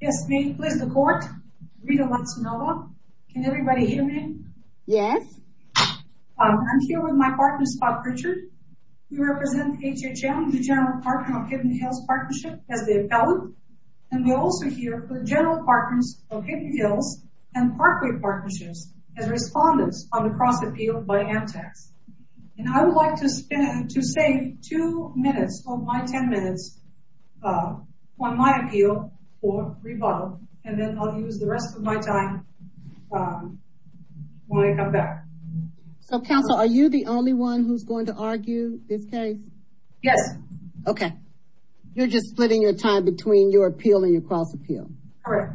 Yes, ma'am. Please the court. Rita Latsanova. Can everybody hear me? Yes. I'm here with my partner, Scott Pritchard. We represent HHM, the General Partner of Hidden Hills Partnership, as the appellant. And we're also here for the General Partners of Hidden Hills and Parkway Partnerships as respondents on the cross appeal by Amtax. And I would like to spend, to save two minutes of my 10 minutes on my appeal for rebuttal, and then I'll use the rest of my time when I come back. So counsel, are you the only one who's going to argue this case? Yes. Okay. You're just splitting your time between your appeal and your cross appeal? Correct.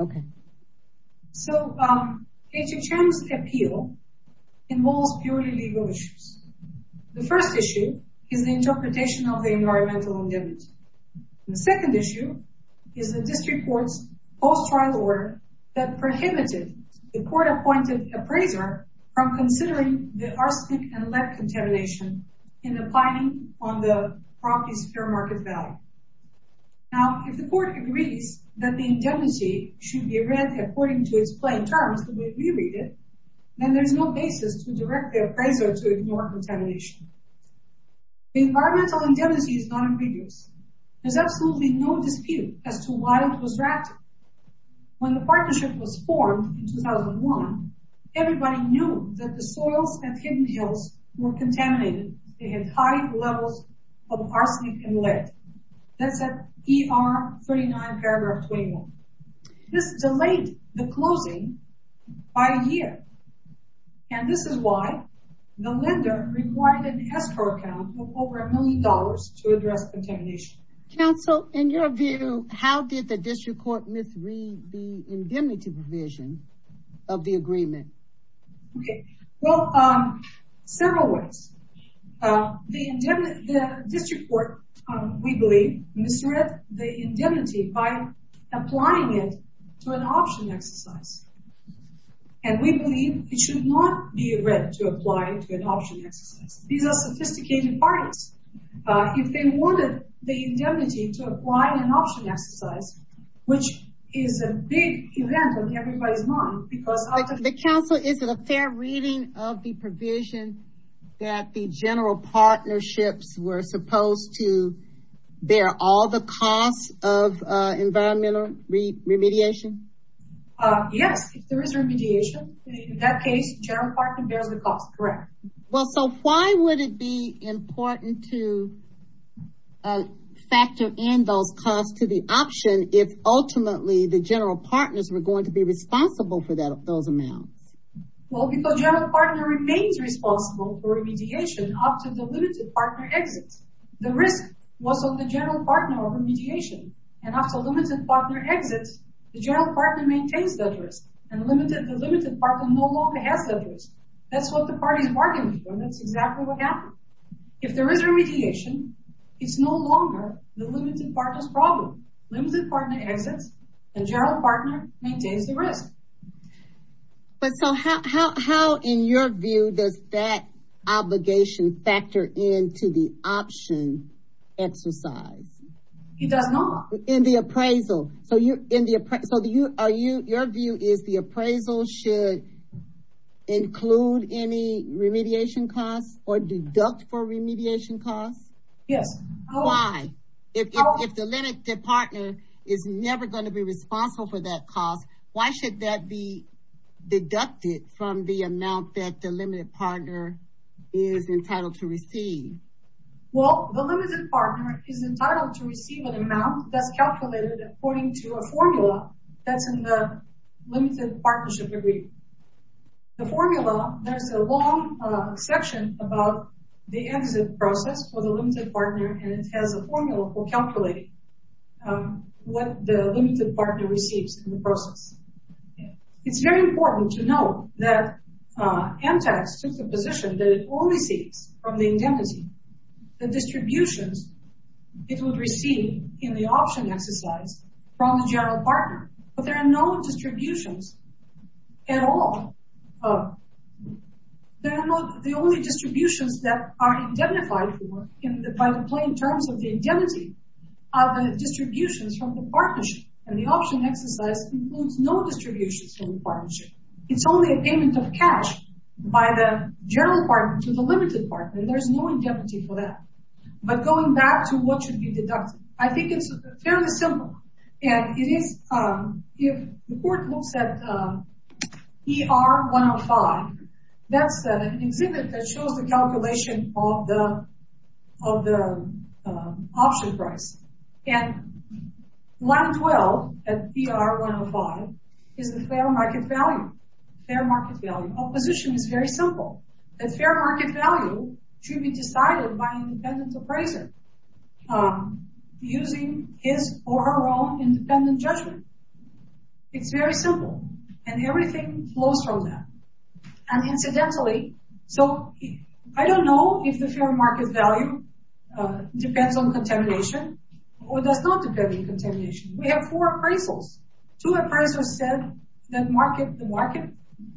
Okay. So HHM's appeal involves purely legal issues. The first issue is the interpretation of the environmental indemnity. The second issue is the district court's post-trial order that prohibited the court-appointed appraiser from considering the arsenic and lead contamination in the planning on the property's fair market value. Now, if the court agrees that the indemnity should be read according to its plain terms the way we read it, then there's no basis to direct the appraiser to ignore contamination. The environmental indemnity is non-ambiguous. There's absolutely no dispute as to why it was drafted. When the partnership was formed in 2001, everybody knew that the soils and hidden hills were contaminated. They had high levels of arsenic and lead. That's at ER 39 paragraph 21. This delayed the closing by a year. And this is why the lender required an escrow account of over a million dollars to address contamination. Counsel, in your view, how did the district court misread the indemnity provision of the agreement? Well, several ways. The district court, we believe, misread the indemnity by applying it to an option exercise. And we believe it should not be read to apply to an option exercise. These are sophisticated parties. If they wanted the indemnity to apply to an option exercise, which is a big event on everybody's mind, because... Counsel, is it a fair reading of the provision that the general partnerships were supposed to bear all the costs of environmental remediation? Yes, if there is remediation. In that case, the general partner bears the cost, correct. Well, so why would it be important to factor in those costs to the option if ultimately the general partners were going to be responsible for those amounts? Well, because the general partner remains responsible for remediation up to the limited partner exits. The risk was on the general partner of remediation. And after the limited partner exits, the general partner maintains that risk. And the limited partner no longer has that risk. That's what the parties are arguing for. That's exactly what happened. If there is remediation, it's no longer the limited partner's problem. Limited partner exits, the general partner maintains the risk. But so how in your view does that obligation factor into the option exercise? It does not. In the appraisal. So your view is the appraisal should include any remediation costs or deduct for remediation costs? Yes. Why? If the limited partner is never going to be responsible for that cost, why should that be deducted from the amount that the limited partner is entitled to receive? Well, the limited partner is entitled to receive an amount that's calculated according to a formula that's in the limited partnership agreement. The formula, there's a long section about the exit process for the limited partner, and it has a formula for calculating what the limited partner receives in the process. It's very important to know that Amtax took the position that it only sees from the indemnity the distributions it would receive in the option exercise from the general partner. But there are no distributions at all. There are not the only distributions that are indemnified by the plain terms of the indemnity are the distributions from the partnership. And the option exercise includes no distributions from the partnership. It's only a payment of cash by the general partner to the limited partner, and there's no indemnity for that. But going back to what should be deducted, I think it's fairly simple. And it is, if the court looks at ER 105, that's an exhibit that shows the calculation of the option price. And land well at ER 105 is the fair market value. Fair market value. Opposition is very simple. The fair market value should be decided by an independent appraiser using his or her own independent judgment. It's very simple, and everything flows from that. And incidentally, so I don't know if the fair market value depends on contamination or does not depend on contamination. We have four appraisals. Two appraisers said that the market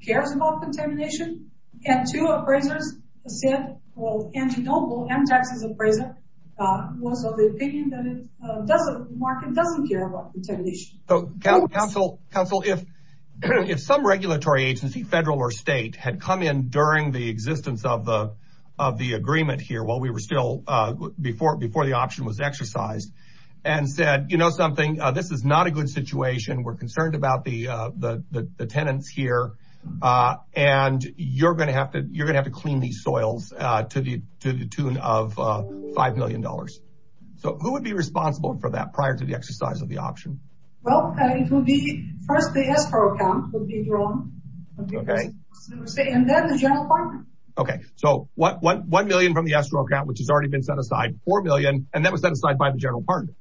cares about contamination, and two appraisers said, well, Angie Noble, Amtax's appraiser, was of the opinion that the market doesn't care about contamination. Council, if some regulatory agency, federal or state, had come in during the existence of the agreement here, while we were still, before the option was exercised, and said, you know something, this is not a good situation. We're concerned about the tenants here, and you're going to have to clean these soils to the tune of $5 million. So who would be responsible for that prior to the exercise of the option? Well, it would be first the escrow account would be drawn. Okay. And then the general partner. Okay, so $1 million from the escrow account, which has already been set aside, $4 million, and that was set aside by the general partner.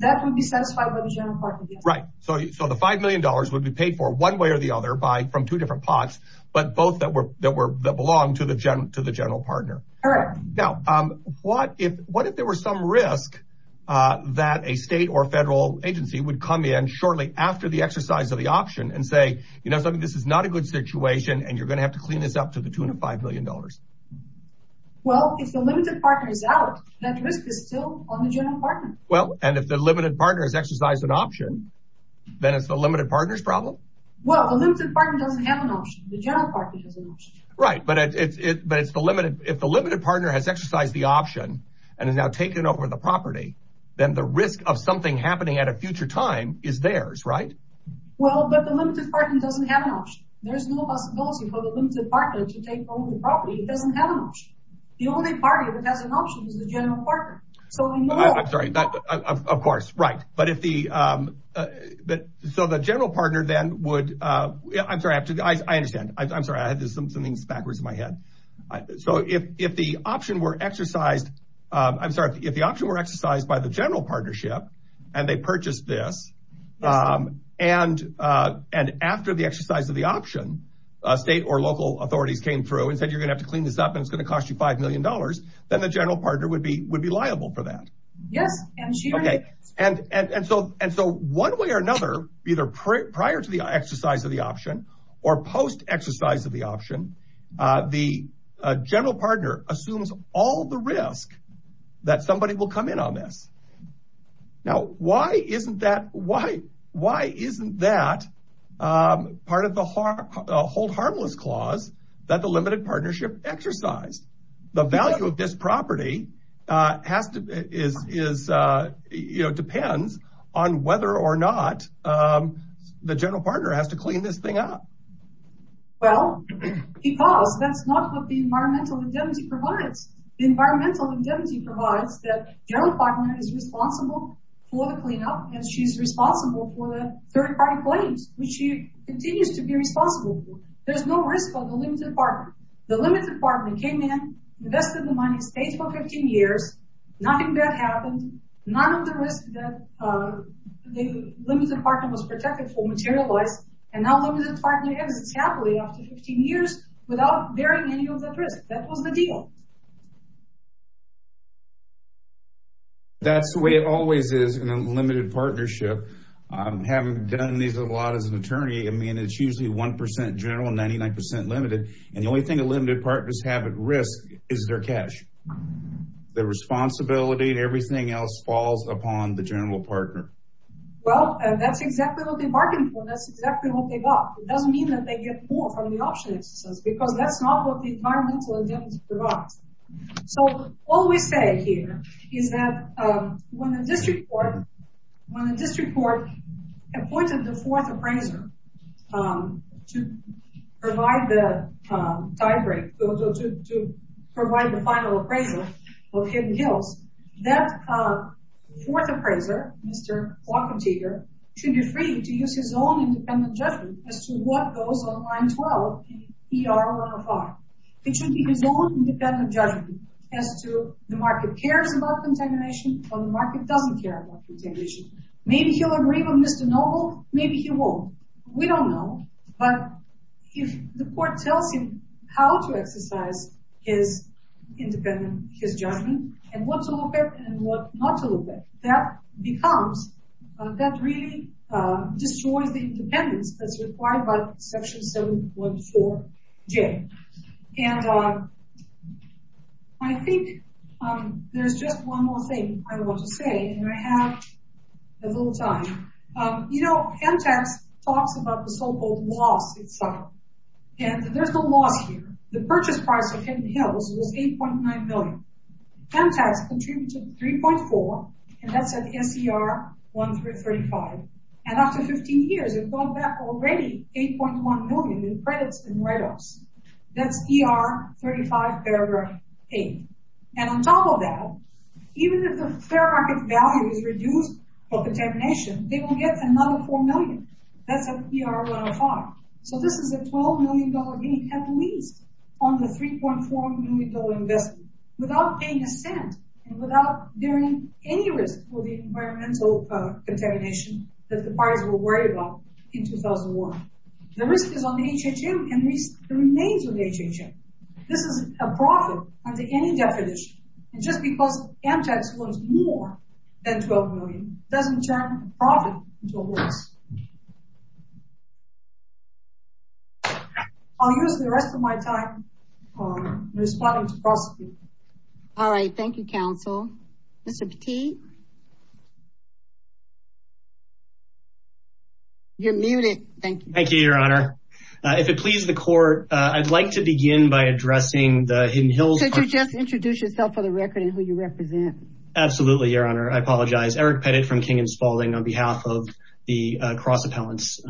That would be satisfied by the general partner, yes. Right, so the $5 million would be paid for one way or the other from two different pots, but both that belong to the general partner. Correct. Now, what if there were some risk that a state or federal agency would come in shortly after the exercise of the option, and say, you know something, this is not a good situation, and you're going to have to clean this up to the tune of $5 million? Well, if the limited partner is out, that risk is still on the general partner. Well, and if the limited partner has exercised an option, then it's the limited partner's problem? Well, the limited partner doesn't have an option. The general partner has an option. Right, but if the limited partner has exercised the option and has now taken over the property, then the risk of something happening at a future time is theirs, right? Well, but the limited partner doesn't have an option. There is no possibility for the limited partner to take over the property. It doesn't have an option. The only party that has an option is the general partner. I'm sorry, of course, right. So the general partner then would, I'm sorry, I understand. I'm sorry, I had something backwards in my head. So if the option were exercised, I'm sorry, if the option were exercised by the general partnership, and they purchased this, and after the exercise of the option, state or local authorities came through and said, you're going to have to clean this up, and it's going to cost you $5 million, then the general partner would be liable for that. And so one way or another, either prior to the exercise of the option or post-exercise of the option, the general partner assumes all the risk that somebody will come in on this. Now, why isn't that part of the hold harmless clause that the limited partnership exercised? The value of this property depends on whether or not the general partner has to clean this thing up. Well, because that's not what the environmental indemnity provides. The environmental indemnity provides that general partner is responsible for the cleanup, and she's responsible for the third-party claims, which she continues to be responsible for. There's no risk of the limited partner. The limited partner came in, invested the money, stayed for 15 years. Nothing bad happened. None of the risk that the limited partner was protected for materialized, and now the limited partner exits happily after 15 years without bearing any of that risk. That was the deal. That's the way it always is in a limited partnership. Having done these a lot as an attorney, I mean, it's usually 1% general and 99% limited, and the only thing that limited partners have at risk is their cash. Their responsibility and everything else falls upon the general partner. Well, that's exactly what they bargained for. That's exactly what they got. It doesn't mean that they get more from the option exercise because that's not what the environmental indemnity provides. All we say here is that when the district court appointed the fourth appraiser to provide the final appraiser of Hidden Hills, that fourth appraiser, Mr. Walkentiger, should be free to use his own independent judgment as to what goes on line 12 in ER 105. It should be his own independent judgment as to the market cares about contamination or the market doesn't care about contamination. Maybe he'll agree with Mr. Noble. Maybe he won't. We don't know, but if the court tells him how to exercise his independent judgment and what to look at and what not to look at, that really destroys the independence that's required by Section 7.4J. And I think there's just one more thing I want to say, and I have a little time. You know, MTAX talks about the so-called loss itself, and there's no loss here. The purchase price of Hidden Hills was $8.9 million. MTAX contributed $3.4 million, and that's at SER 135. And after 15 years, it brought back already $8.1 million in credits and write-offs. That's ER 35 paragraph 8. And on top of that, even if the fair market value is reduced for contamination, they will get another $4 million. That's at ER 105. So this is a $12 million gain, at least on the $3.4 million investment. Without paying a cent and without bearing any risk for the environmental contamination that the parties were worried about in 2001. The risk is on the HHM and the remains of the HHM. This is a profit under any definition. And just because MTAX earns more than $12 million doesn't turn a profit into a loss. I'll use the rest of my time responding to prosecutors. All right. Thank you, counsel. Mr. Petit. You're muted. Thank you. Thank you, Your Honor. If it pleases the court, I'd like to begin by addressing the Hidden Hills. Could you just introduce yourself for the record and who you represent? Absolutely, Your Honor. I apologize. Eric Petit from King and Spaulding on behalf of the cross appellants,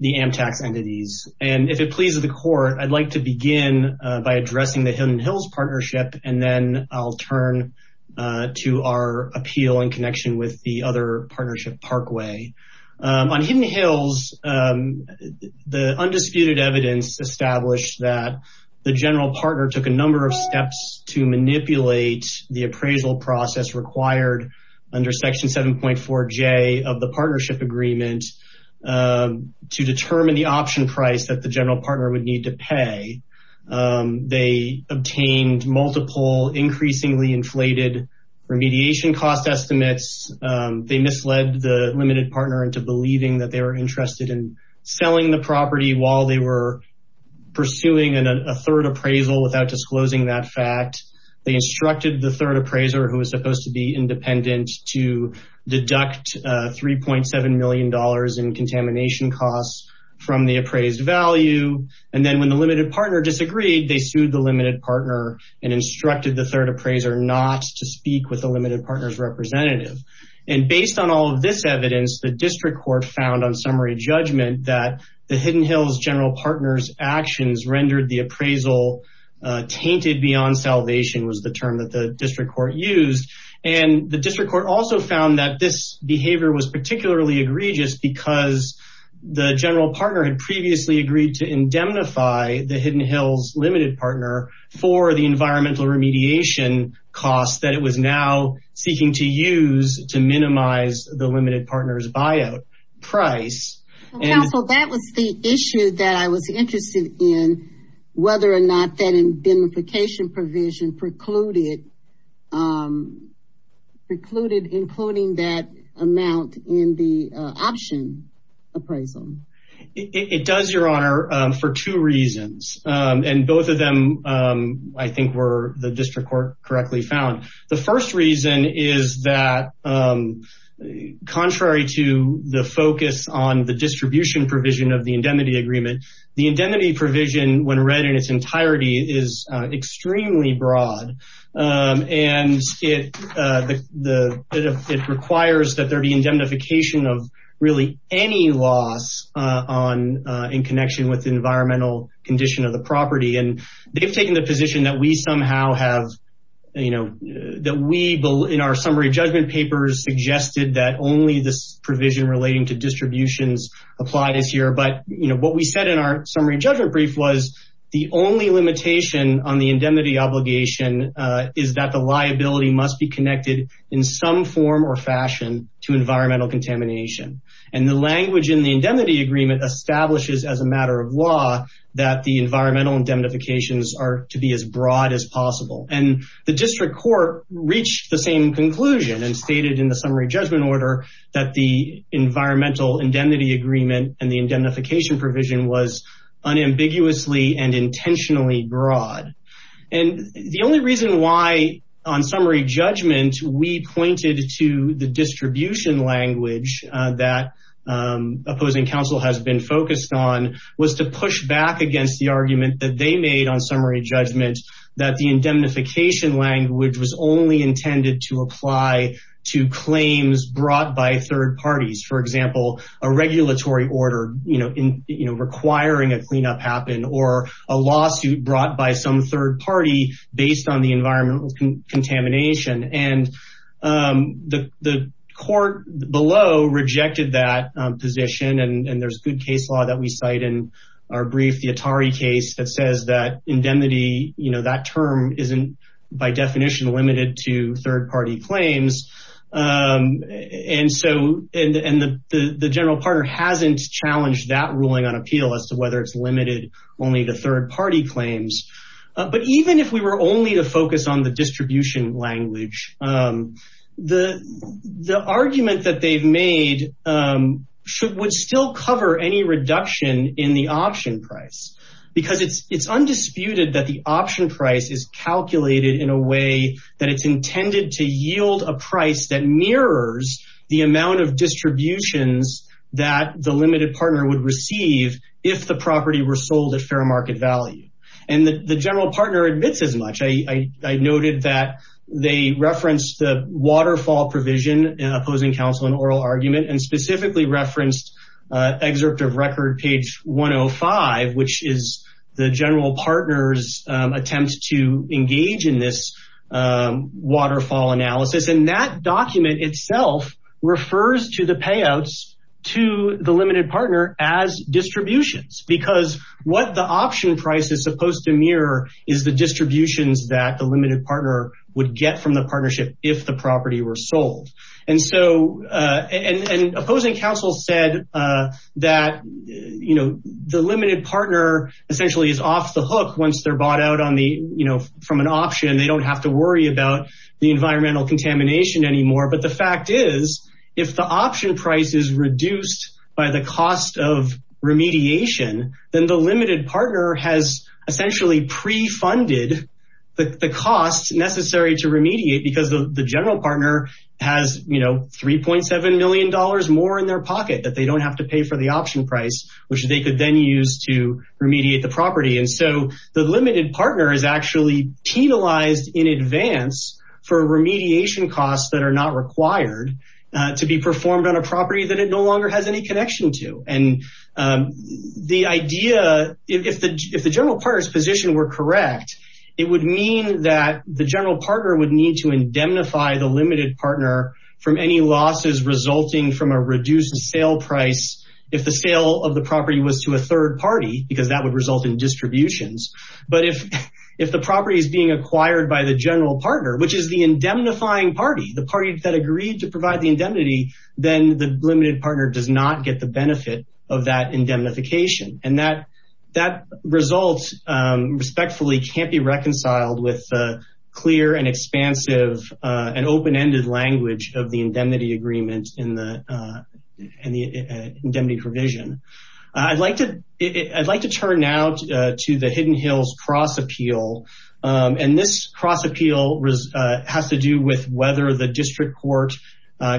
the MTAX entities. And if it pleases the court, I'd like to begin by addressing the Hidden Hills Partnership. And then I'll turn to our appeal in connection with the other partnership, Parkway. On Hidden Hills, the undisputed evidence established that the general partner took a number of steps to manipulate the appraisal process required under Section 7.4J of the partnership agreement to determine the option price that the general partner would need to pay. They obtained multiple increasingly inflated remediation cost estimates. They misled the limited partner into believing that they were interested in selling the property while they were pursuing a third appraisal without disclosing that fact. They instructed the third appraiser, who was supposed to be independent, to deduct $3.7 million in contamination costs from the appraised value. And then when the limited partner disagreed, they sued the limited partner and instructed the third appraiser not to speak with the limited partner's representative. And based on all of this evidence, the district court found on summary judgment that the Hidden Hills general partner's actions rendered the appraisal tainted beyond salvation was the term that the district court used. And the district court also found that this behavior was particularly egregious because the general partner had previously agreed to indemnify the Hidden Hills limited partner for the environmental remediation costs that it was now seeking to use to minimize the limited partner's buyout price. Counsel, that was the issue that I was interested in, whether or not that indemnification provision precluded including that amount in the option appraisal. It does, Your Honor, for two reasons. And both of them, I think, were the district court correctly found. The first reason is that contrary to the focus on the distribution provision of the indemnity agreement, the indemnity provision, when read in its entirety, is extremely broad. And it requires that there be indemnification of really any loss on in connection with the environmental condition of the property. And they've taken the position that we somehow have, you know, that we in our summary judgment papers suggested that only this provision relating to distributions applies here. But, you know, what we said in our summary judgment brief was the only limitation on the indemnity obligation is that the liability must be connected in some form or fashion to environmental contamination. And the language in the indemnity agreement establishes as a matter of law that the environmental indemnifications are to be as broad as possible. And the district court reached the same conclusion and stated in the summary judgment order that the environmental indemnity agreement and the indemnification provision was unambiguously and intentionally broad. And the only reason why on summary judgment we pointed to the distribution language that opposing counsel has been focused on was to push back against the argument that they made on summary judgment that the indemnification language was only intended to apply to claims brought by third parties. For example, a regulatory order requiring a cleanup happen or a lawsuit brought by some third party based on the environmental contamination. And the court below rejected that position. And there's good case law that we cite in our brief, the Atari case that says that indemnity, you know, that term isn't by definition limited to third party claims. And so and the general partner hasn't challenged that ruling on appeal as to whether it's limited only to third party claims. But even if we were only to focus on the distribution language, the argument that they've made would still cover any reduction in the option price, because it's undisputed that the option price is calculated in a way that it's intended to yield a price that mirrors the amount of distributions that the limited partner would receive if the property were sold at fair market value. And the general partner admits as much. I noted that they referenced the waterfall provision, opposing counsel and oral argument, and specifically referenced excerpt of record page 105, which is the general partner's attempt to engage in this waterfall analysis. And that document itself refers to the payouts to the limited partner as distributions, because what the option price is supposed to mirror is the distributions that the limited partner would get from the partnership if the property were sold. And so and opposing counsel said that, you know, the limited partner essentially is off the hook once they're bought out on the you know, from an option. They don't have to worry about the environmental contamination anymore. But the fact is, if the option price is reduced by the cost of remediation, then the limited partner has essentially pre-funded the costs necessary to remediate because the general partner has, you know, $3.7 million more in their pocket that they don't have to pay for the option price, which they could then use to remediate the property. And so the limited partner is actually penalized in advance for remediation costs that are not required to be performed on a property that it no longer has any connection to. And the idea, if the general partner's position were correct, it would mean that the general partner would need to indemnify the limited partner from any losses resulting from a reduced sale price. If the sale of the property was to a third party, because that would result in distributions. But if the property is being acquired by the general partner, which is the indemnifying party, the party that agreed to provide the indemnity, then the limited partner does not get the benefit of that indemnification. And that result respectfully can't be reconciled with clear and expansive and open-ended language of the indemnity agreement and the indemnity provision. I'd like to turn now to the Hidden Hills Cross Appeal. And this cross appeal has to do with whether the district court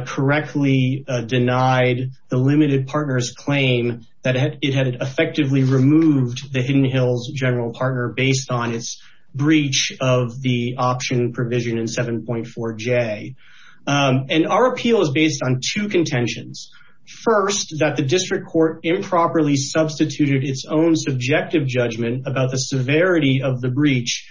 correctly denied the limited partners claim that it had effectively removed the Hidden Hills general partner based on its breach of the option provision in 7.4J. And our appeal is based on two contentions. First, that the district court improperly substituted its own subjective judgment about the severity of the breach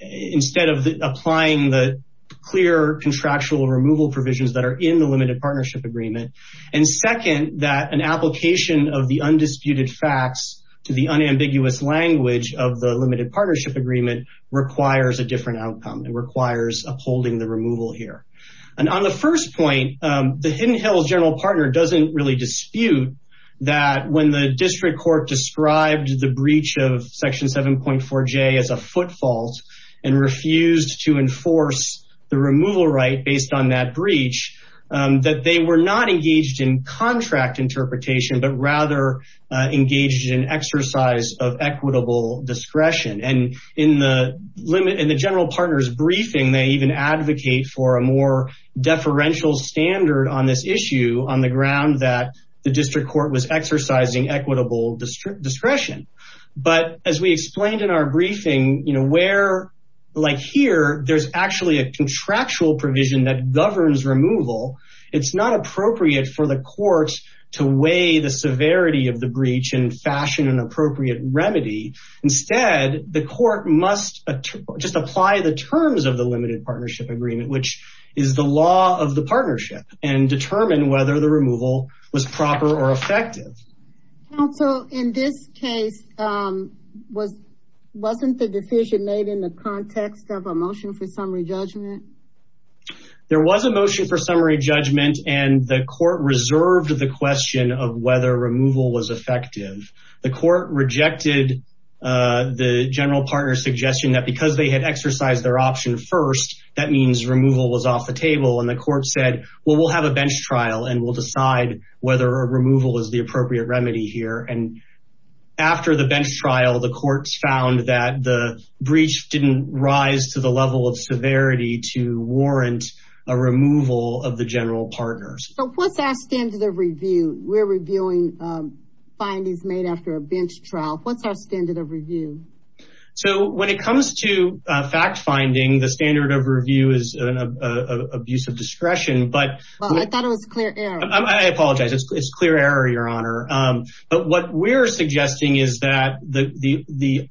instead of applying the clear contractual removal provisions that are in the limited partnership agreement. And second, that an application of the undisputed facts to the unambiguous language of the limited partnership agreement requires a different outcome and requires upholding the removal here. And on the first point, the Hidden Hills general partner doesn't really dispute that when the district court described the breach of section 7.4J as a footfault and refused to enforce the removal right based on that breach, that they were not engaged in contract interpretation, but rather engaged in exercise of equitable discretion. And in the general partner's briefing, they even advocate for a more deferential standard on this issue on the ground that the district court was exercising equitable discretion. But as we explained in our briefing, where, like here, there's actually a contractual provision that governs removal. It's not appropriate for the courts to weigh the severity of the breach and fashion an appropriate remedy. Instead, the court must just apply the terms of the limited partnership agreement, which is the law of the partnership, and determine whether the removal was proper or effective. Counsel, in this case, wasn't the decision made in the context of a motion for summary judgment? There was a motion for summary judgment and the court reserved the question of whether removal was effective. The court rejected the general partner's suggestion that because they had exercised their option first, that means removal was off the table. And the court said, well, we'll have a bench trial and we'll decide whether a removal is the appropriate remedy here. And after the bench trial, the courts found that the breach didn't rise to the level of severity to warrant a removal of the general partners. So what's our standard of review? We're reviewing findings made after a bench trial. What's our standard of review? So when it comes to fact finding, the standard of review is an abuse of discretion. But I thought it was clear. I apologize. It's clear error, Your Honor. But what we're suggesting is that the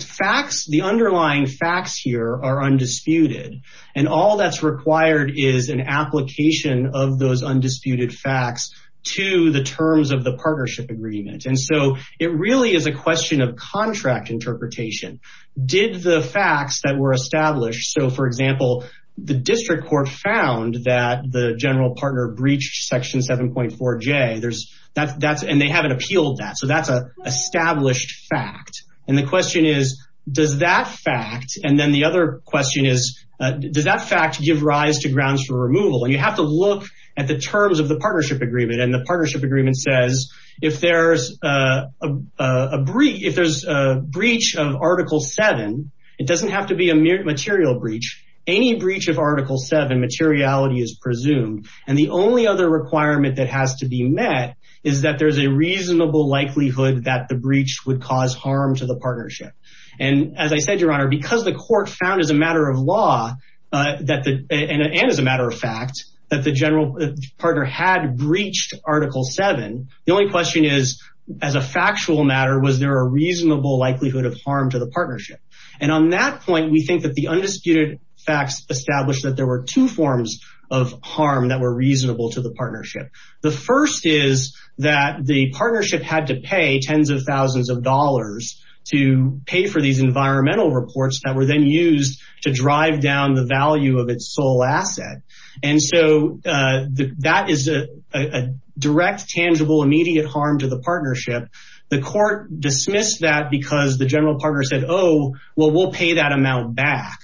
facts, the underlying facts here are undisputed. And all that's required is an application of those undisputed facts to the terms of the partnership agreement. And so it really is a question of contract interpretation. Did the facts that were established. So, for example, the district court found that the general partner breached Section 7.4J. And they haven't appealed that. So that's an established fact. And the question is, does that fact. And then the other question is, does that fact give rise to grounds for removal? And you have to look at the terms of the partnership agreement. And the partnership agreement says if there's a breach of Article 7, it doesn't have to be a material breach. Any breach of Article 7 materiality is presumed. And the only other requirement that has to be met is that there is a reasonable likelihood that the breach would cause harm to the partnership. And as I said, Your Honor, because the court found as a matter of law that and as a matter of fact that the general partner had breached Article 7. The only question is, as a factual matter, was there a reasonable likelihood of harm to the partnership? And on that point, we think that the undisputed facts established that there were two forms of harm that were reasonable to the partnership. The first is that the partnership had to pay tens of thousands of dollars to pay for these environmental reports that were then used to drive down the value of its sole asset. And so that is a direct, tangible, immediate harm to the partnership. The court dismissed that because the general partner said, oh, well, we'll pay that amount back.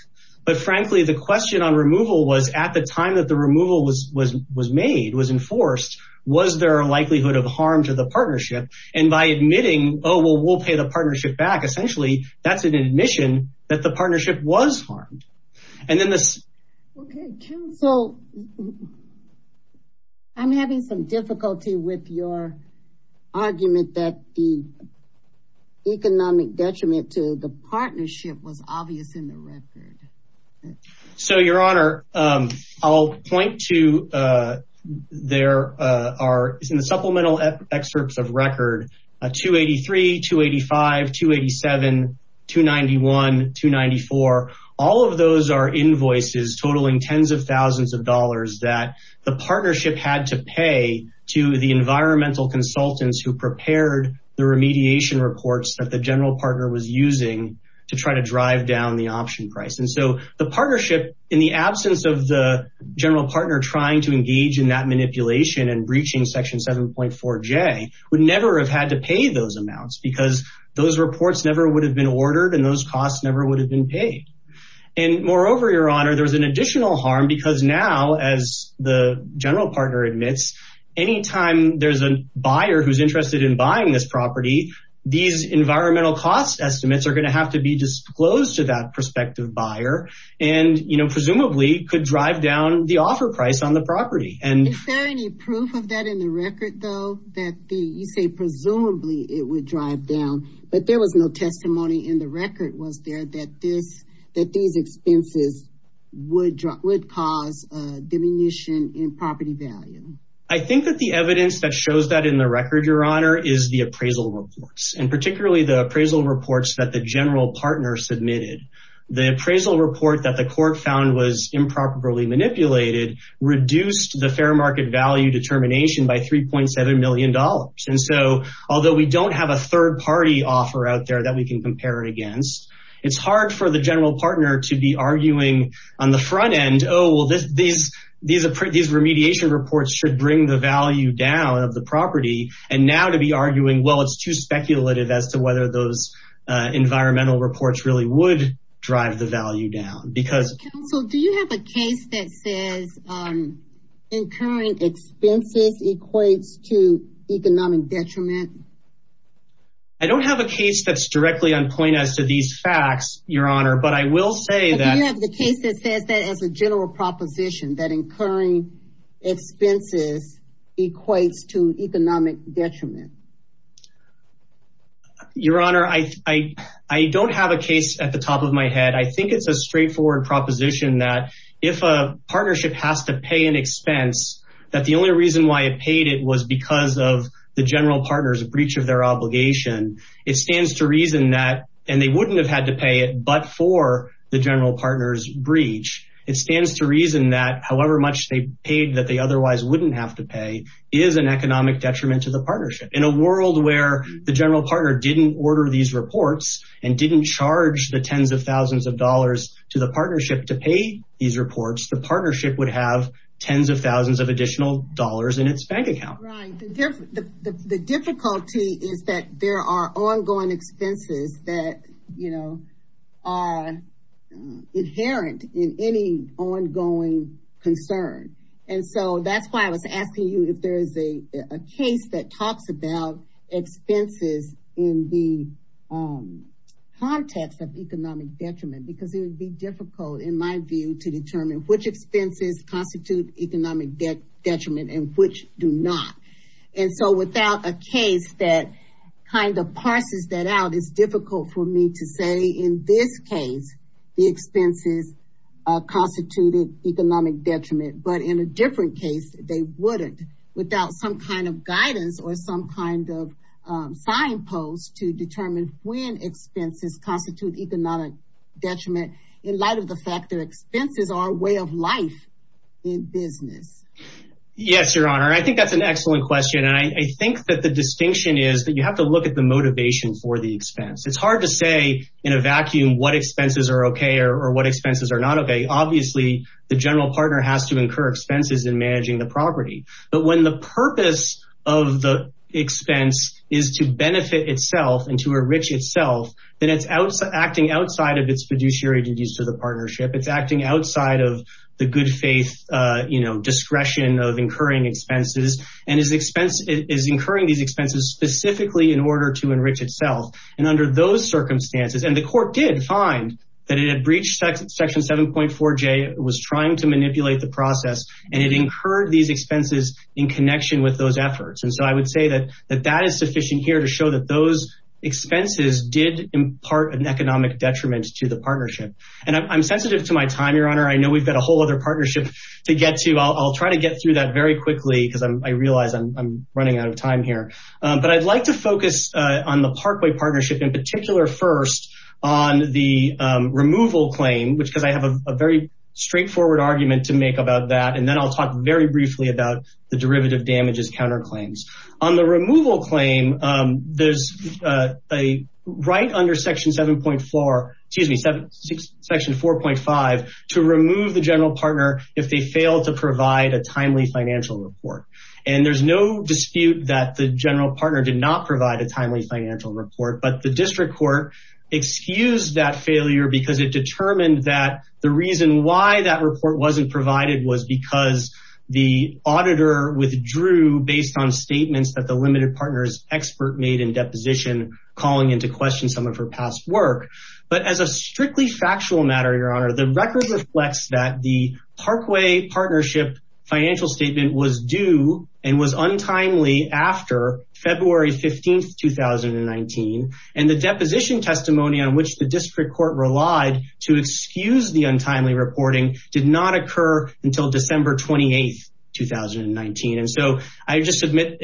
But frankly, the question on removal was at the time that the removal was made, was enforced, was there a likelihood of harm to the partnership? And by admitting, oh, well, we'll pay the partnership back. Essentially, that's an admission that the partnership was harmed. OK, counsel, I'm having some difficulty with your argument that the economic detriment to the partnership was obvious in the record. So, Your Honor, I'll point to there are in the supplemental excerpts of record 283, 285, 287, 291, 294. All of those are invoices totaling tens of thousands of dollars that the partnership had to pay to the environmental consultants who prepared the remediation reports that the general partner was using to try to drive down the option price. And so the partnership, in the absence of the general partner trying to engage in that manipulation and breaching Section 7.4J, would never have had to pay those amounts because those reports never would have been ordered and those costs never would have been paid. And moreover, Your Honor, there was an additional harm because now, as the general partner admits, anytime there's a buyer who's interested in buying this property, these environmental cost estimates are going to have to be disclosed to that prospective buyer and presumably could drive down the offer price on the property. Is there any proof of that in the record, though, that you say presumably it would drive down, but there was no testimony in the record, was there, that these expenses would cause a diminution in property value? I think that the evidence that shows that in the record, Your Honor, is the appraisal reports, and particularly the appraisal reports that the general partner submitted. The appraisal report that the court found was improperly manipulated reduced the fair market value determination by $3.7 million. And so although we don't have a third party offer out there that we can compare it against, it's hard for the general partner to be arguing on the front end, oh, well, these remediation reports should bring the value down of the property. And now to be arguing, well, it's too speculative as to whether those environmental reports really would drive the value down. Counsel, do you have a case that says incurring expenses equates to economic detriment? I don't have a case that's directly on point as to these facts, Your Honor. Do you have a case that says that as a general proposition, that incurring expenses equates to economic detriment? Your Honor, I don't have a case at the top of my head. I think it's a straightforward proposition that if a partnership has to pay an expense, that the only reason why it paid it was because of the general partner's breach of their obligation. It stands to reason that, and they wouldn't have had to pay it but for the general partner's breach. It stands to reason that however much they paid that they otherwise wouldn't have to pay is an economic detriment to the partnership. In a world where the general partner didn't order these reports and didn't charge the tens of thousands of dollars to the partnership to pay these reports, the partnership would have tens of thousands of additional dollars in its bank account. The difficulty is that there are ongoing expenses that are inherent in any ongoing concern. That's why I was asking you if there is a case that talks about expenses in the context of economic detriment because it would be difficult in my view to determine which expenses constitute economic detriment and which do not. And so without a case that kind of parses that out, it's difficult for me to say in this case the expenses constituted economic detriment. But in a different case, they wouldn't without some kind of guidance or some kind of signpost to determine when expenses constitute economic detriment in light of the fact that expenses are a way of life in business. Yes, Your Honor. I think that's an excellent question. I think that the distinction is that you have to look at the motivation for the expense. It's hard to say in a vacuum what expenses are okay or what expenses are not okay. Obviously, the general partner has to incur expenses in managing the property. But when the purpose of the expense is to benefit itself and to enrich itself, then it's acting outside of its fiduciary duties to the partnership. It's acting outside of the good faith discretion of incurring expenses and is incurring these expenses specifically in order to enrich itself. And under those circumstances, and the court did find that it had breached Section 7.4J, was trying to manipulate the process, and it incurred these expenses in connection with those efforts. And so I would say that that is sufficient here to show that those expenses did impart an economic detriment to the partnership. And I'm sensitive to my time, Your Honor. I know we've got a whole other partnership to get to. I'll try to get through that very quickly because I realize I'm running out of time here. But I'd like to focus on the Parkway partnership in particular first on the removal claim, because I have a very straightforward argument to make about that. And then I'll talk very briefly about the derivative damages counterclaims. On the removal claim, there's a right under Section 7.4, excuse me, Section 4.5, to remove the general partner if they fail to provide a timely financial report. And there's no dispute that the general partner did not provide a timely financial report. But the district court excused that failure because it determined that the reason why that report wasn't provided was because the auditor withdrew based on statements that the limited partners expert made in deposition calling into question someone for past work. But as a strictly factual matter, Your Honor, the record reflects that the Parkway partnership financial statement was due and was untimely after February 15, 2019. And the deposition testimony on which the district court relied to excuse the untimely reporting did not occur until December 28, 2019. And so I just submit,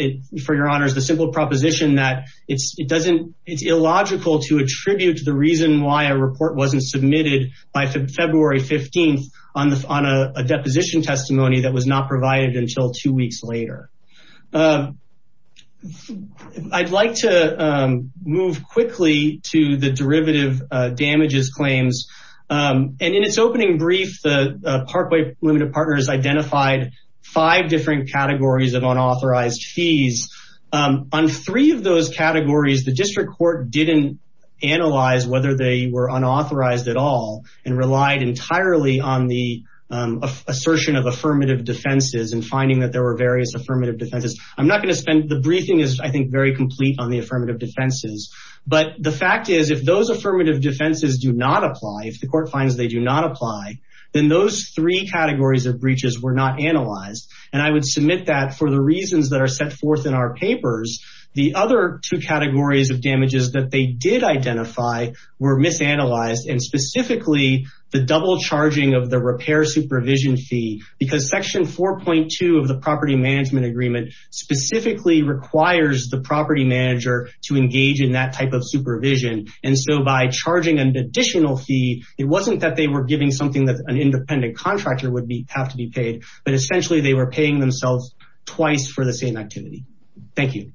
for Your Honor, the simple proposition that it's illogical to attribute the reason why a report wasn't submitted by February 15 on a deposition testimony that was not provided until two weeks later. I'd like to move quickly to the derivative damages claims. And in its opening brief, the Parkway Limited Partners identified five different categories of unauthorized fees. On three of those categories, the district court didn't analyze whether they were unauthorized at all and relied entirely on the assertion of affirmative defenses and finding that there were various affirmative defenses. The briefing is, I think, very complete on the affirmative defenses. But the fact is, if those affirmative defenses do not apply, if the court finds they do not apply, then those three categories of breaches were not analyzed. And I would submit that for the reasons that are set forth in our papers, the other two categories of damages that they did identify were misanalyzed. And specifically, the double charging of the repair supervision fee, because section 4.2 of the property management agreement specifically requires the property manager to engage in that type of supervision. And so by charging an additional fee, it wasn't that they were giving something that an independent contractor would have to be paid, but essentially they were paying themselves twice for the same activity. Thank you.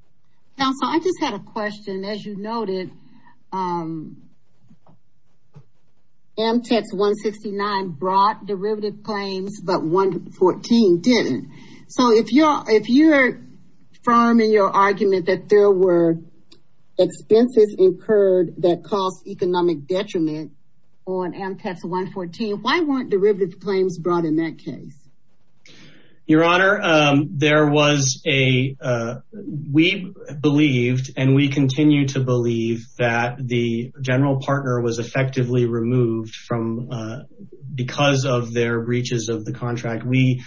Counsel, I just had a question. As you noted, MTEX 169 brought derivative claims, but 114 didn't. So if you're affirming your argument that there were expenses incurred that caused economic detriment on MTEX 114, why weren't derivative claims brought in that case? Your Honor, we believed and we continue to believe that the general partner was effectively removed because of their breaches of the contract. Maybe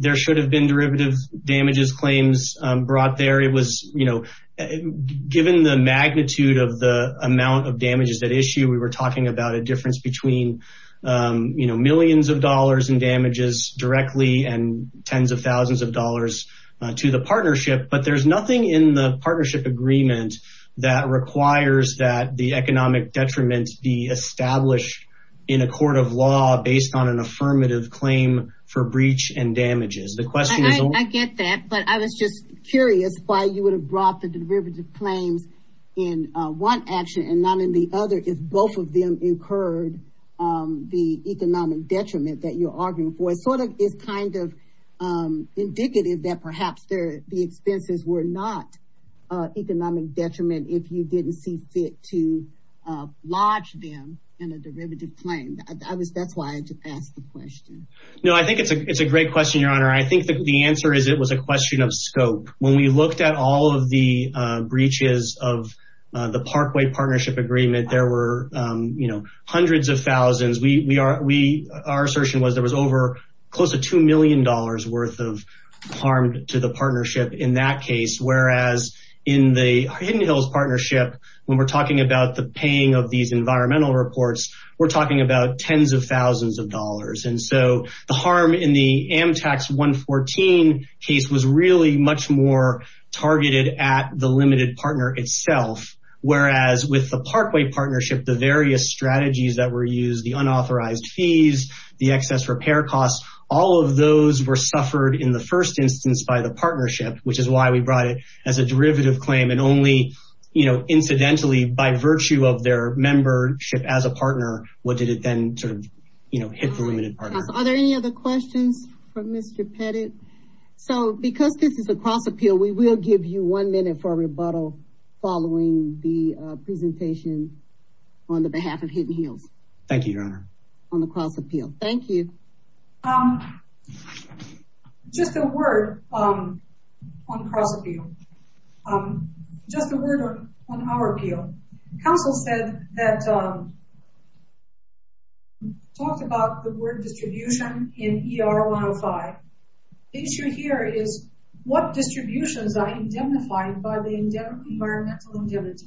there should have been derivative damages claims brought there. Given the magnitude of the amount of damages at issue, we were talking about a difference between millions of dollars in damages directly and tens of thousands of dollars to the partnership. But there's nothing in the partnership agreement that requires that the economic detriment be established in a court of law based on an affirmative claim for breach and damages. I get that, but I was just curious why you would have brought the derivative claims in one action and not in the other if both of them incurred the economic detriment that you're arguing for. It sort of is kind of indicative that perhaps the expenses were not economic detriment if you didn't see fit to lodge them in a derivative claim. That's why I just asked the question. I think it's a great question, Your Honor. I think the answer is it was a question of scope. When we looked at all of the breaches of the Parkway Partnership Agreement, there were hundreds of thousands. Our assertion was there was over close to $2 million worth of harm to the partnership in that case. Whereas in the Hidden Hills Partnership, when we're talking about the paying of these environmental reports, we're talking about tens of thousands of dollars. And so the harm in the Amtax 114 case was really much more targeted at the limited partner itself. Whereas with the Parkway Partnership, the various strategies that were used, the unauthorized fees, the excess repair costs, all of those were suffered in the first instance by the partnership, which is why we brought it as a derivative claim. And only incidentally, by virtue of their membership as a partner, did it then hit the limited partner. Are there any other questions for Mr. Pettit? So because this is a cross appeal, we will give you one minute for rebuttal following the presentation on the behalf of Hidden Hills. Thank you, Your Honor. On the cross appeal. Thank you. Just a word on cross appeal. Just a word on our appeal. Counsel said that, talked about the word distribution in ER 105. The issue here is what distributions are indemnified by the environmental indemnity.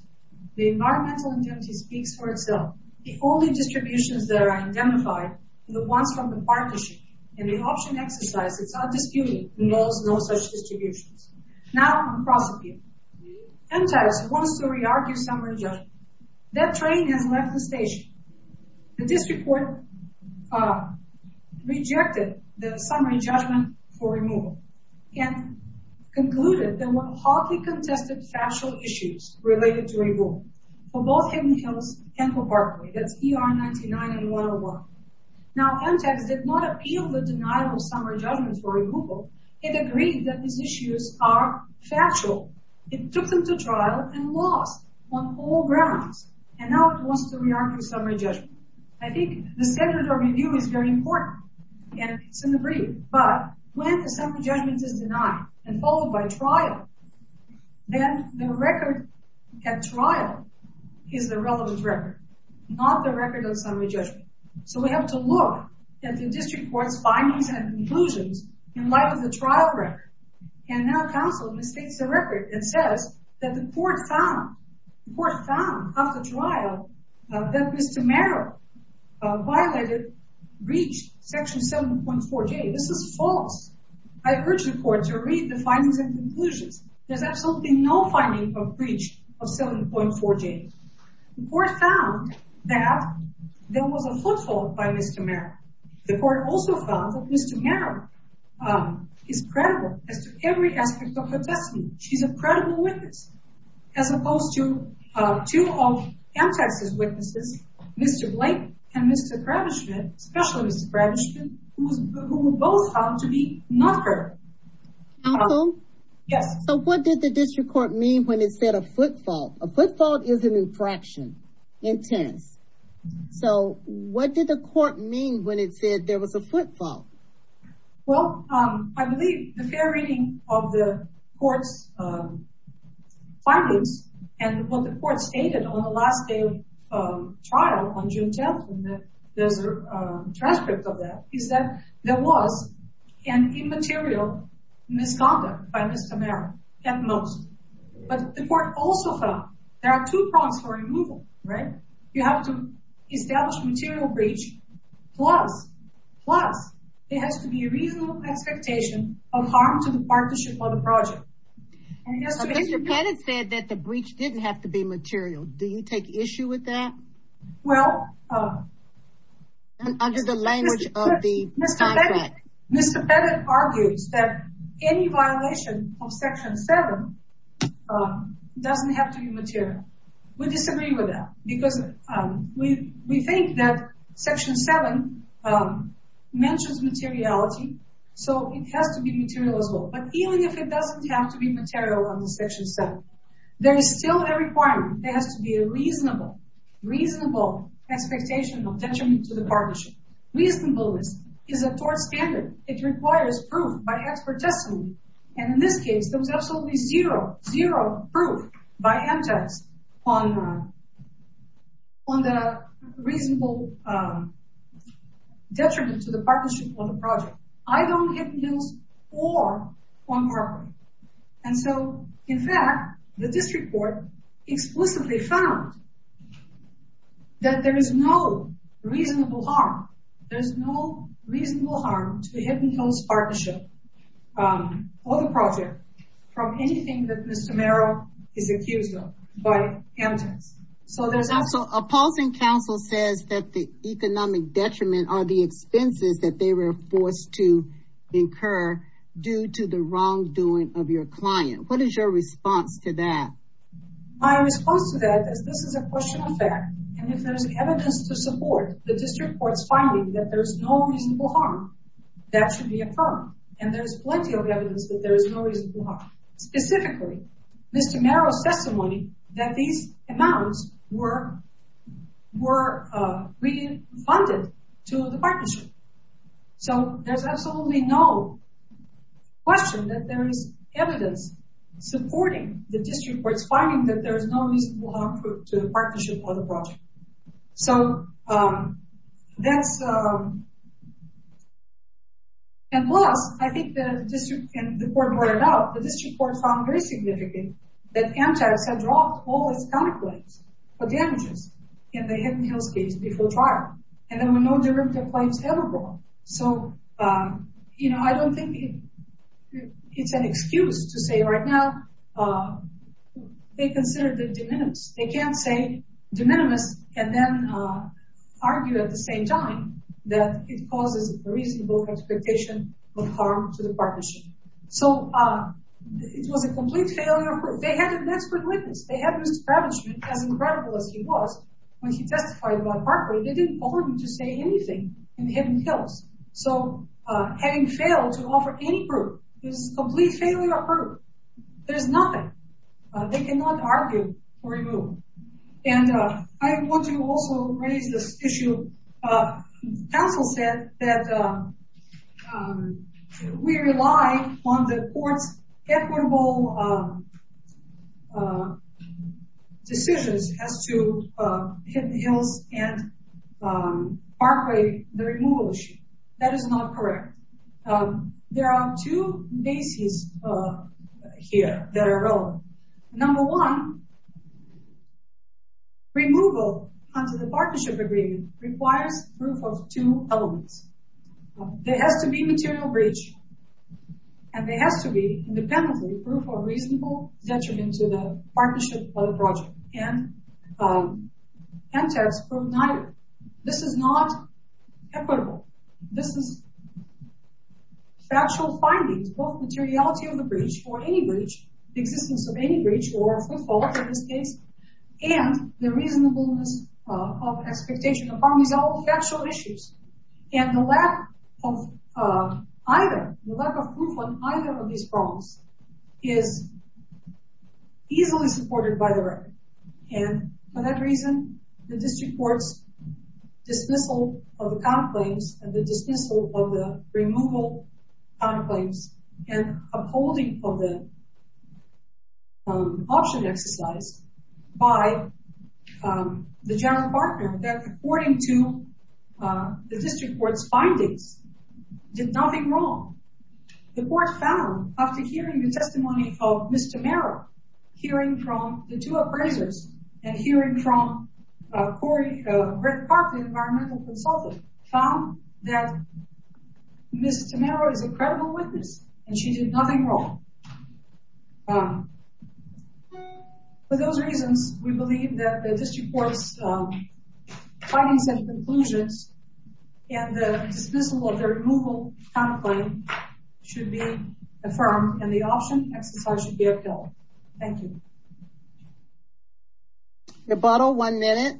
The environmental indemnity speaks for itself. The only distributions that are indemnified are the ones from the partnership. And the option exercise, it's not disputed, knows no such distributions. Now on cross appeal. Amtax wants to re-argue summary judgment. That train has left the station. The district court rejected the summary judgment for removal. And concluded there were hardly contested factual issues related to removal. For both Hidden Hills and for Parkway. That's ER 99 and 101. Now Amtax did not appeal the denial of summary judgment for removal. It agreed that these issues are factual. It took them to trial and lost on all grounds. And now it wants to re-argue summary judgment. I think the standard of review is very important. And it's in the brief. But when the summary judgment is denied. And followed by trial. Then the record at trial is the relevant record. Not the record of summary judgment. So we have to look at the district court's findings and conclusions. In light of the trial record. And now counsel mistakes the record. It says that the court found. The court found after trial. That Mr. Merrill violated breach section 7.4J. This is false. I urge the court to read the findings and conclusions. There's absolutely no finding of breach of 7.4J. The court found that there was a footfall by Mr. Merrill. The court also found that Mr. Merrill is credible. As to every aspect of her testimony. She's a credible witness. As opposed to two of Amtax's witnesses. Mr. Blake. And Mr. Kravishman. Especially Mr. Kravishman. Who both found to be not her. Counsel? Yes. So what did the district court mean when it said a footfall? A footfall is an infraction. Intense. So what did the court mean when it said there was a footfall? Well, I believe the fair reading of the court's findings. And what the court stated on the last day of trial. On June 10th. There's a transcript of that. Is that there was an immaterial misconduct by Mr. Merrill. At most. But the court also found there are two prongs for removal. Right? You have to establish material breach. Plus. Plus. There has to be reasonable expectation of harm to the partnership of the project. Mr. Pettit said that the breach didn't have to be material. Do you take issue with that? Well. Under the language of the contract. Mr. Pettit argues that any violation of Section 7 doesn't have to be material. We disagree with that. Because we think that Section 7 mentions materiality. So it has to be material as well. But even if it doesn't have to be material under Section 7. There is still a requirement. There has to be a reasonable. Reasonable expectation of detriment to the partnership. Reasonableness is a court standard. It requires proof by expert testimony. And in this case, there was absolutely zero. Zero proof. By MTS. On the reasonable detriment to the partnership of the project. I don't get bills or on property. And so. In fact. The district court. Explicitly found. That there is no reasonable harm. There's no reasonable harm to the partnership. Or the project. From anything that Mr. Merrill. Is accused of. By MTS. So there's also opposing counsel says that the economic detriment. Expenses that they were forced to incur. Due to the wrongdoing of your client. What is your response to that? My response to that is this is a question of fact. And if there's evidence to support. The district court's finding that there's no reasonable harm. That should be a problem. And there's plenty of evidence that there is no reason. Specifically. Mr. Merrill's testimony. That these amounts were. Were really funded. To the partnership. So there's absolutely no. Question that there is evidence. Supporting the district where it's finding that there's no reason. To the partnership or the project. So. That's. And. I think that. The court. Found very significant. All this. Damages. In the hidden hills case before trial. And there were no. So. You know, I don't think. It's an excuse to say right now. They consider the. They can't say. And then. Argue at the same time. That it causes a reasonable expectation. Of harm to the partnership. So. It was a complete failure. They had an expert witness. They have. As incredible as he was. When he testified. They didn't want him to say anything. In the hidden hills. So. Having failed to offer any group. Complete failure. There's nothing. They cannot argue. And. I want to also raise this issue. Counsel said. That. We rely. On the courts. Decisions. As to. And. The removal issue. That is not correct. There are two bases. Here. Number one. Removal. Under the partnership agreement. Requires proof of two elements. There has to be material breach. And there has to be. Independently. Proof of reasonable detriment to the partnership. Of the project. And. This is not equitable. This is. Factual findings. Materiality of the breach. Existence of any breach. The reasonableness. Of expectation. Factual issues. And the lack of. Proof on either of these problems. Is. Easily supported by the record. And for that reason. The district courts. Dismissal of the counterclaims. And the dismissal of the. Removal. Of the. Option exercise. By. The general partner. That according to. The district court's findings. Did nothing wrong. The court found. After hearing the testimony of Mr. Merrill. Hearing from the two appraisers. And hearing from. Corey. Environmental consultant. Found that. Mr. Merrill is a credible witness. And she did nothing wrong. For those reasons. We believe that the district courts. Findings and conclusions. And the dismissal. Of the removal. Should be. Affirmed and the option exercise. Thank you. The bottle. One minute.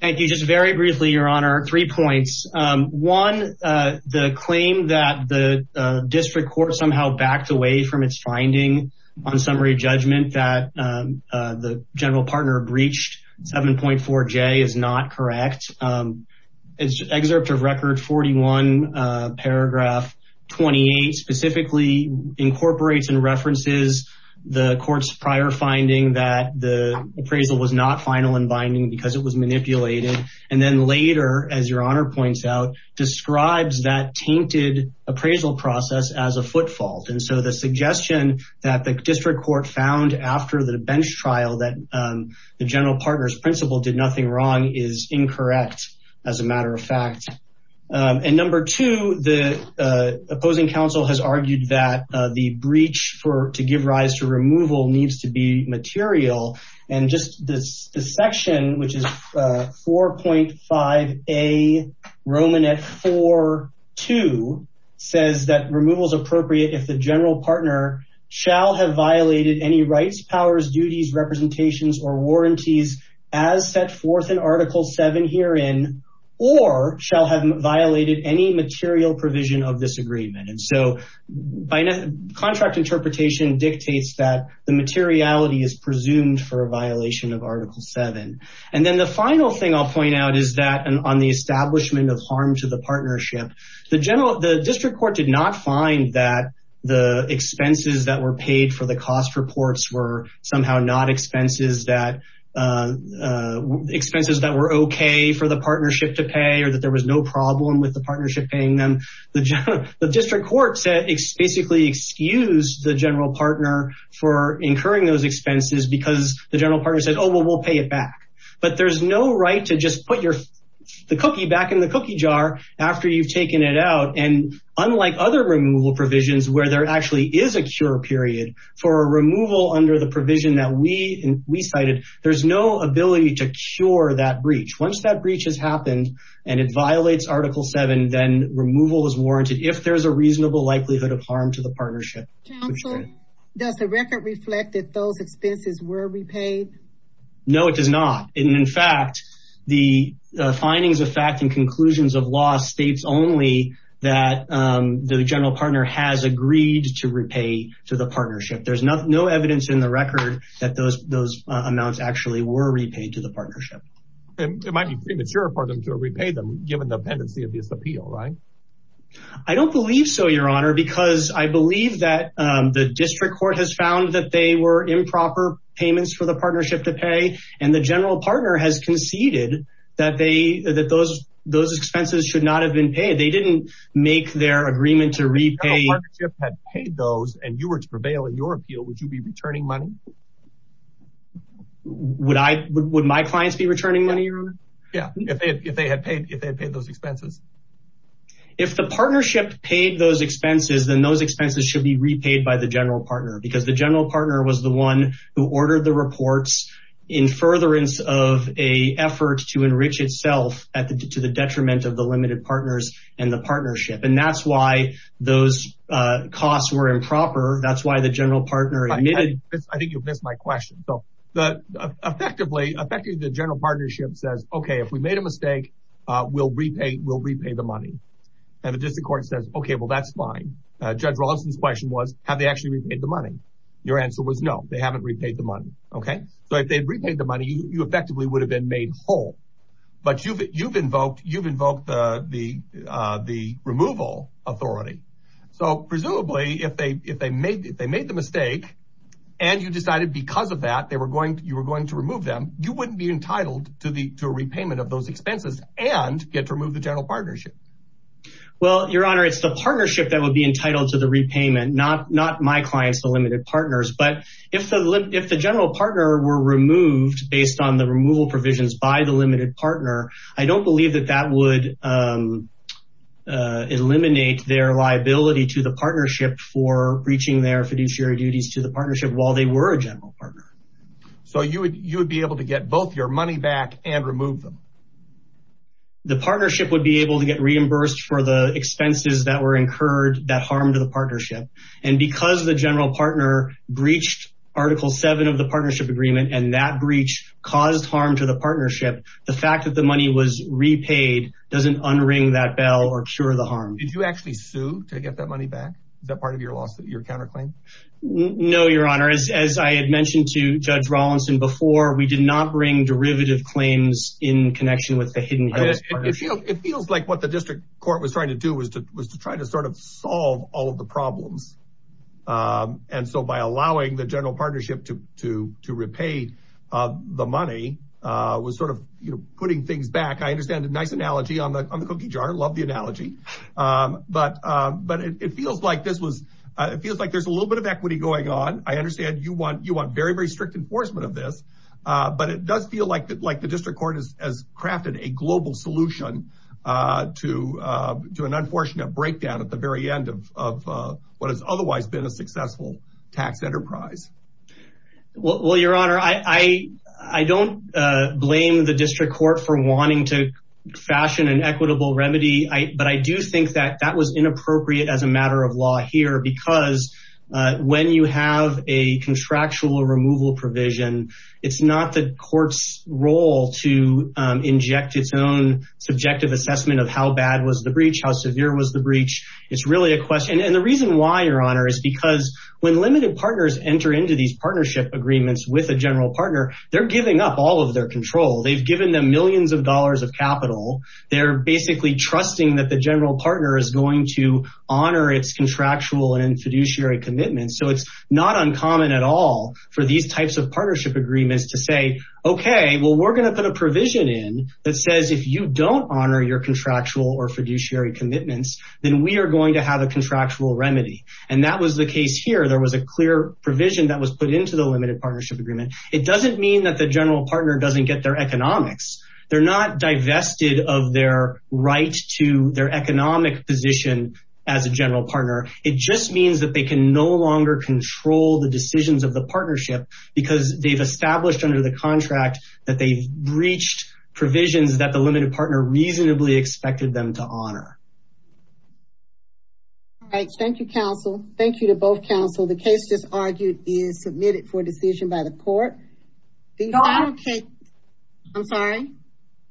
Thank you. Just very briefly, your honor. Three points. One. The claim that the district court. Somehow backed away from its finding. On summary judgment that. The general partner breached. 7.4. J is not correct. It's excerpt of record 41. Paragraph. 28 specifically. Incorporates and references. The court's prior finding. That the appraisal was not final. And binding because it was manipulated. And then later, as your honor points out. Describes that tainted. Appraisal process as a foot fault. And so the suggestion. That the district court found. After the bench trial that. The general partner's principle did nothing wrong. Is incorrect. As a matter of fact. And number two, the. Opposing council has argued that. The breach for to give rise to removal. Needs to be material. And just this. The section, which is. 4.5. A Roman at four. Two says that removal is appropriate. If the general partner. Shall have violated any rights. Powers, duties, representations, or warranties. As set forth in article. Seven herein. Or shall have violated any material. Provision of this agreement. And so. Contract interpretation dictates that. The materiality is presumed. For a violation of article seven. And then the final thing I'll point out is that. On the establishment of harm to the partnership. The general. The district court did not find that. The expenses that were paid for the cost. Reports were somehow not expenses. That. Expenses that were okay. For the partnership to pay. Or that there was no problem with the partnership. Paying them. The district court said. It's basically excuse the general partner. For incurring those expenses. Because the general partner said, oh, well, we'll pay it back. But there's no right to just put your. The cookie back in the cookie jar. After you've taken it out. And unlike other removal provisions. Where there actually is a cure period. For a removal under the provision that we. We cited. There's no ability to cure that breach. Once that breach has happened. And it violates article seven. Then removal is warranted. If there's a reasonable likelihood of harm to the partnership. Does the record reflect. That those expenses were repaid. No, it does not. And in fact. The findings of fact and conclusions of law. States only. That the general partner has agreed. To repay to the partnership. There's no evidence in the record. That those amounts actually were repaid. To the partnership. It might be premature for them to repay them. Given the pendency of this appeal, right? I don't believe so. Your honor, because I believe that. The district court has found that they were improper. Payments for the partnership to pay. And the general partner has conceded. That they, that those. Those expenses should not have been paid. They didn't make their agreement to repay. Had paid those. And you were to prevail in your appeal. Would you be returning money? Would I. Would my clients be returning money? Yeah. If they had paid. If they had paid those expenses. If the partnership paid those expenses. Then those expenses should be repaid by the general partner. Because the general partner was the one. Who ordered the reports. In furtherance of a effort. To enrich itself. To the detriment of the limited partners. And the partnership. And that's why those costs were improper. That's why the general partner. I think you've missed my question. But effectively. The general partnership says. Okay if we made a mistake. We'll repay the money. And the district court says. Okay well that's fine. Judge Rawson's question was. Have they actually repaid the money? Your answer was no. They haven't repaid the money. Okay. So if they'd repaid the money. You effectively would have been made whole. But you've invoked. You've invoked. The removal authority. So presumably. If they made the mistake. And you decided because of that. You were going to remove them. You wouldn't be entitled to a repayment of those expenses. And get to remove the general partnership. Well your honor. It's the partnership that would be entitled to the repayment. Not my clients. The limited partners. But if the general partner were removed. Based on the removal provisions. By the limited partner. I don't believe that that would. Eliminate their liability. To the partnership. For breaching their fiduciary duties. To the partnership. While they were a general partner. So you would be able to get both your money back. And remove them. The partnership would be able to get reimbursed. For the expenses that were incurred. That harmed the partnership. And because the general partner breached. Article 7 of the partnership agreement. And that breach caused harm to the partnership. The fact that the money was repaid. Doesn't unring that bell. Or cure the harm. Did you actually sue to get that money back? Is that part of your counterclaim? No your honor. As I had mentioned to judge Rawlinson before. We did not bring derivative claims. In connection with the hidden. It feels like what the district court was trying to do. Was to try to sort of solve. All of the problems. And so by allowing the general partnership. To repay. The money. Was sort of putting things back. I understand a nice analogy on the cookie jar. Love the analogy. But it feels like this was. It feels like there's a little bit of equity going on. I understand you want very very strict. Enforcement of this. But it does feel like the district court. Has crafted a global solution. To an unfortunate. Breakdown at the very end. Of what has otherwise been a successful. Tax enterprise. Well your honor. I don't blame the district court. For wanting to fashion. An equitable remedy. But I do think that that was inappropriate. As a matter of law here. Because when you have. A contractual removal provision. It's not the courts role. To inject its own. Subjective assessment of how bad was the breach. How severe was the breach. It's really a question. And the reason why your honor. Is because when limited partners. Enter into these partnership agreements. With a general partner. They're giving up all of their control. They've given them millions of dollars of capital. They're basically trusting that the general partner. Is going to honor its contractual. And fiduciary commitments. So it's not uncommon at all. For these types of partnership agreements. To say okay. Well we're going to put a provision in. That says if you don't honor your contractual. Or fiduciary commitments. Then we are going to have a contractual remedy. And that was the case here. There was a clear provision. That was put into the limited partnership agreement. It doesn't mean that the general partner. Doesn't get their economics. They're not divested of their right. To their economic position. As a general partner. It just means that they can no longer. Control the decisions of the partnership. Because they've established under the contract. That they've breached. Provisions that the limited partner. Reasonably expected them to honor. All right. Thank you counsel. Thank you to both counsel. The case just argued. Is submitted for decision by the court. I'm sorry.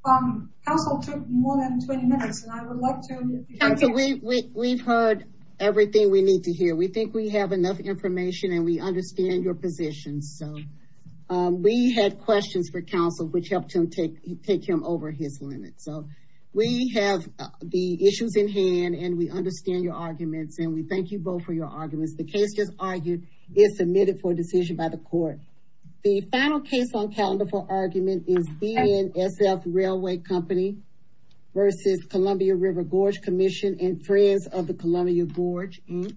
Counsel took more than 20 minutes. And I would love to. We've heard. Everything we need to hear. We think we have enough information. And we understand your position. We had questions for counsel. Which helped him take. Take him over his limit. We have the issues in hand. And we understand your arguments. And we thank you both for your arguments. The case just argued. Is submitted for decision by the court. The final case on calendar for argument. Is BNSF Railway Company. Versus Columbia River Gorge Commission. And friends of the Columbia Gorge Inc.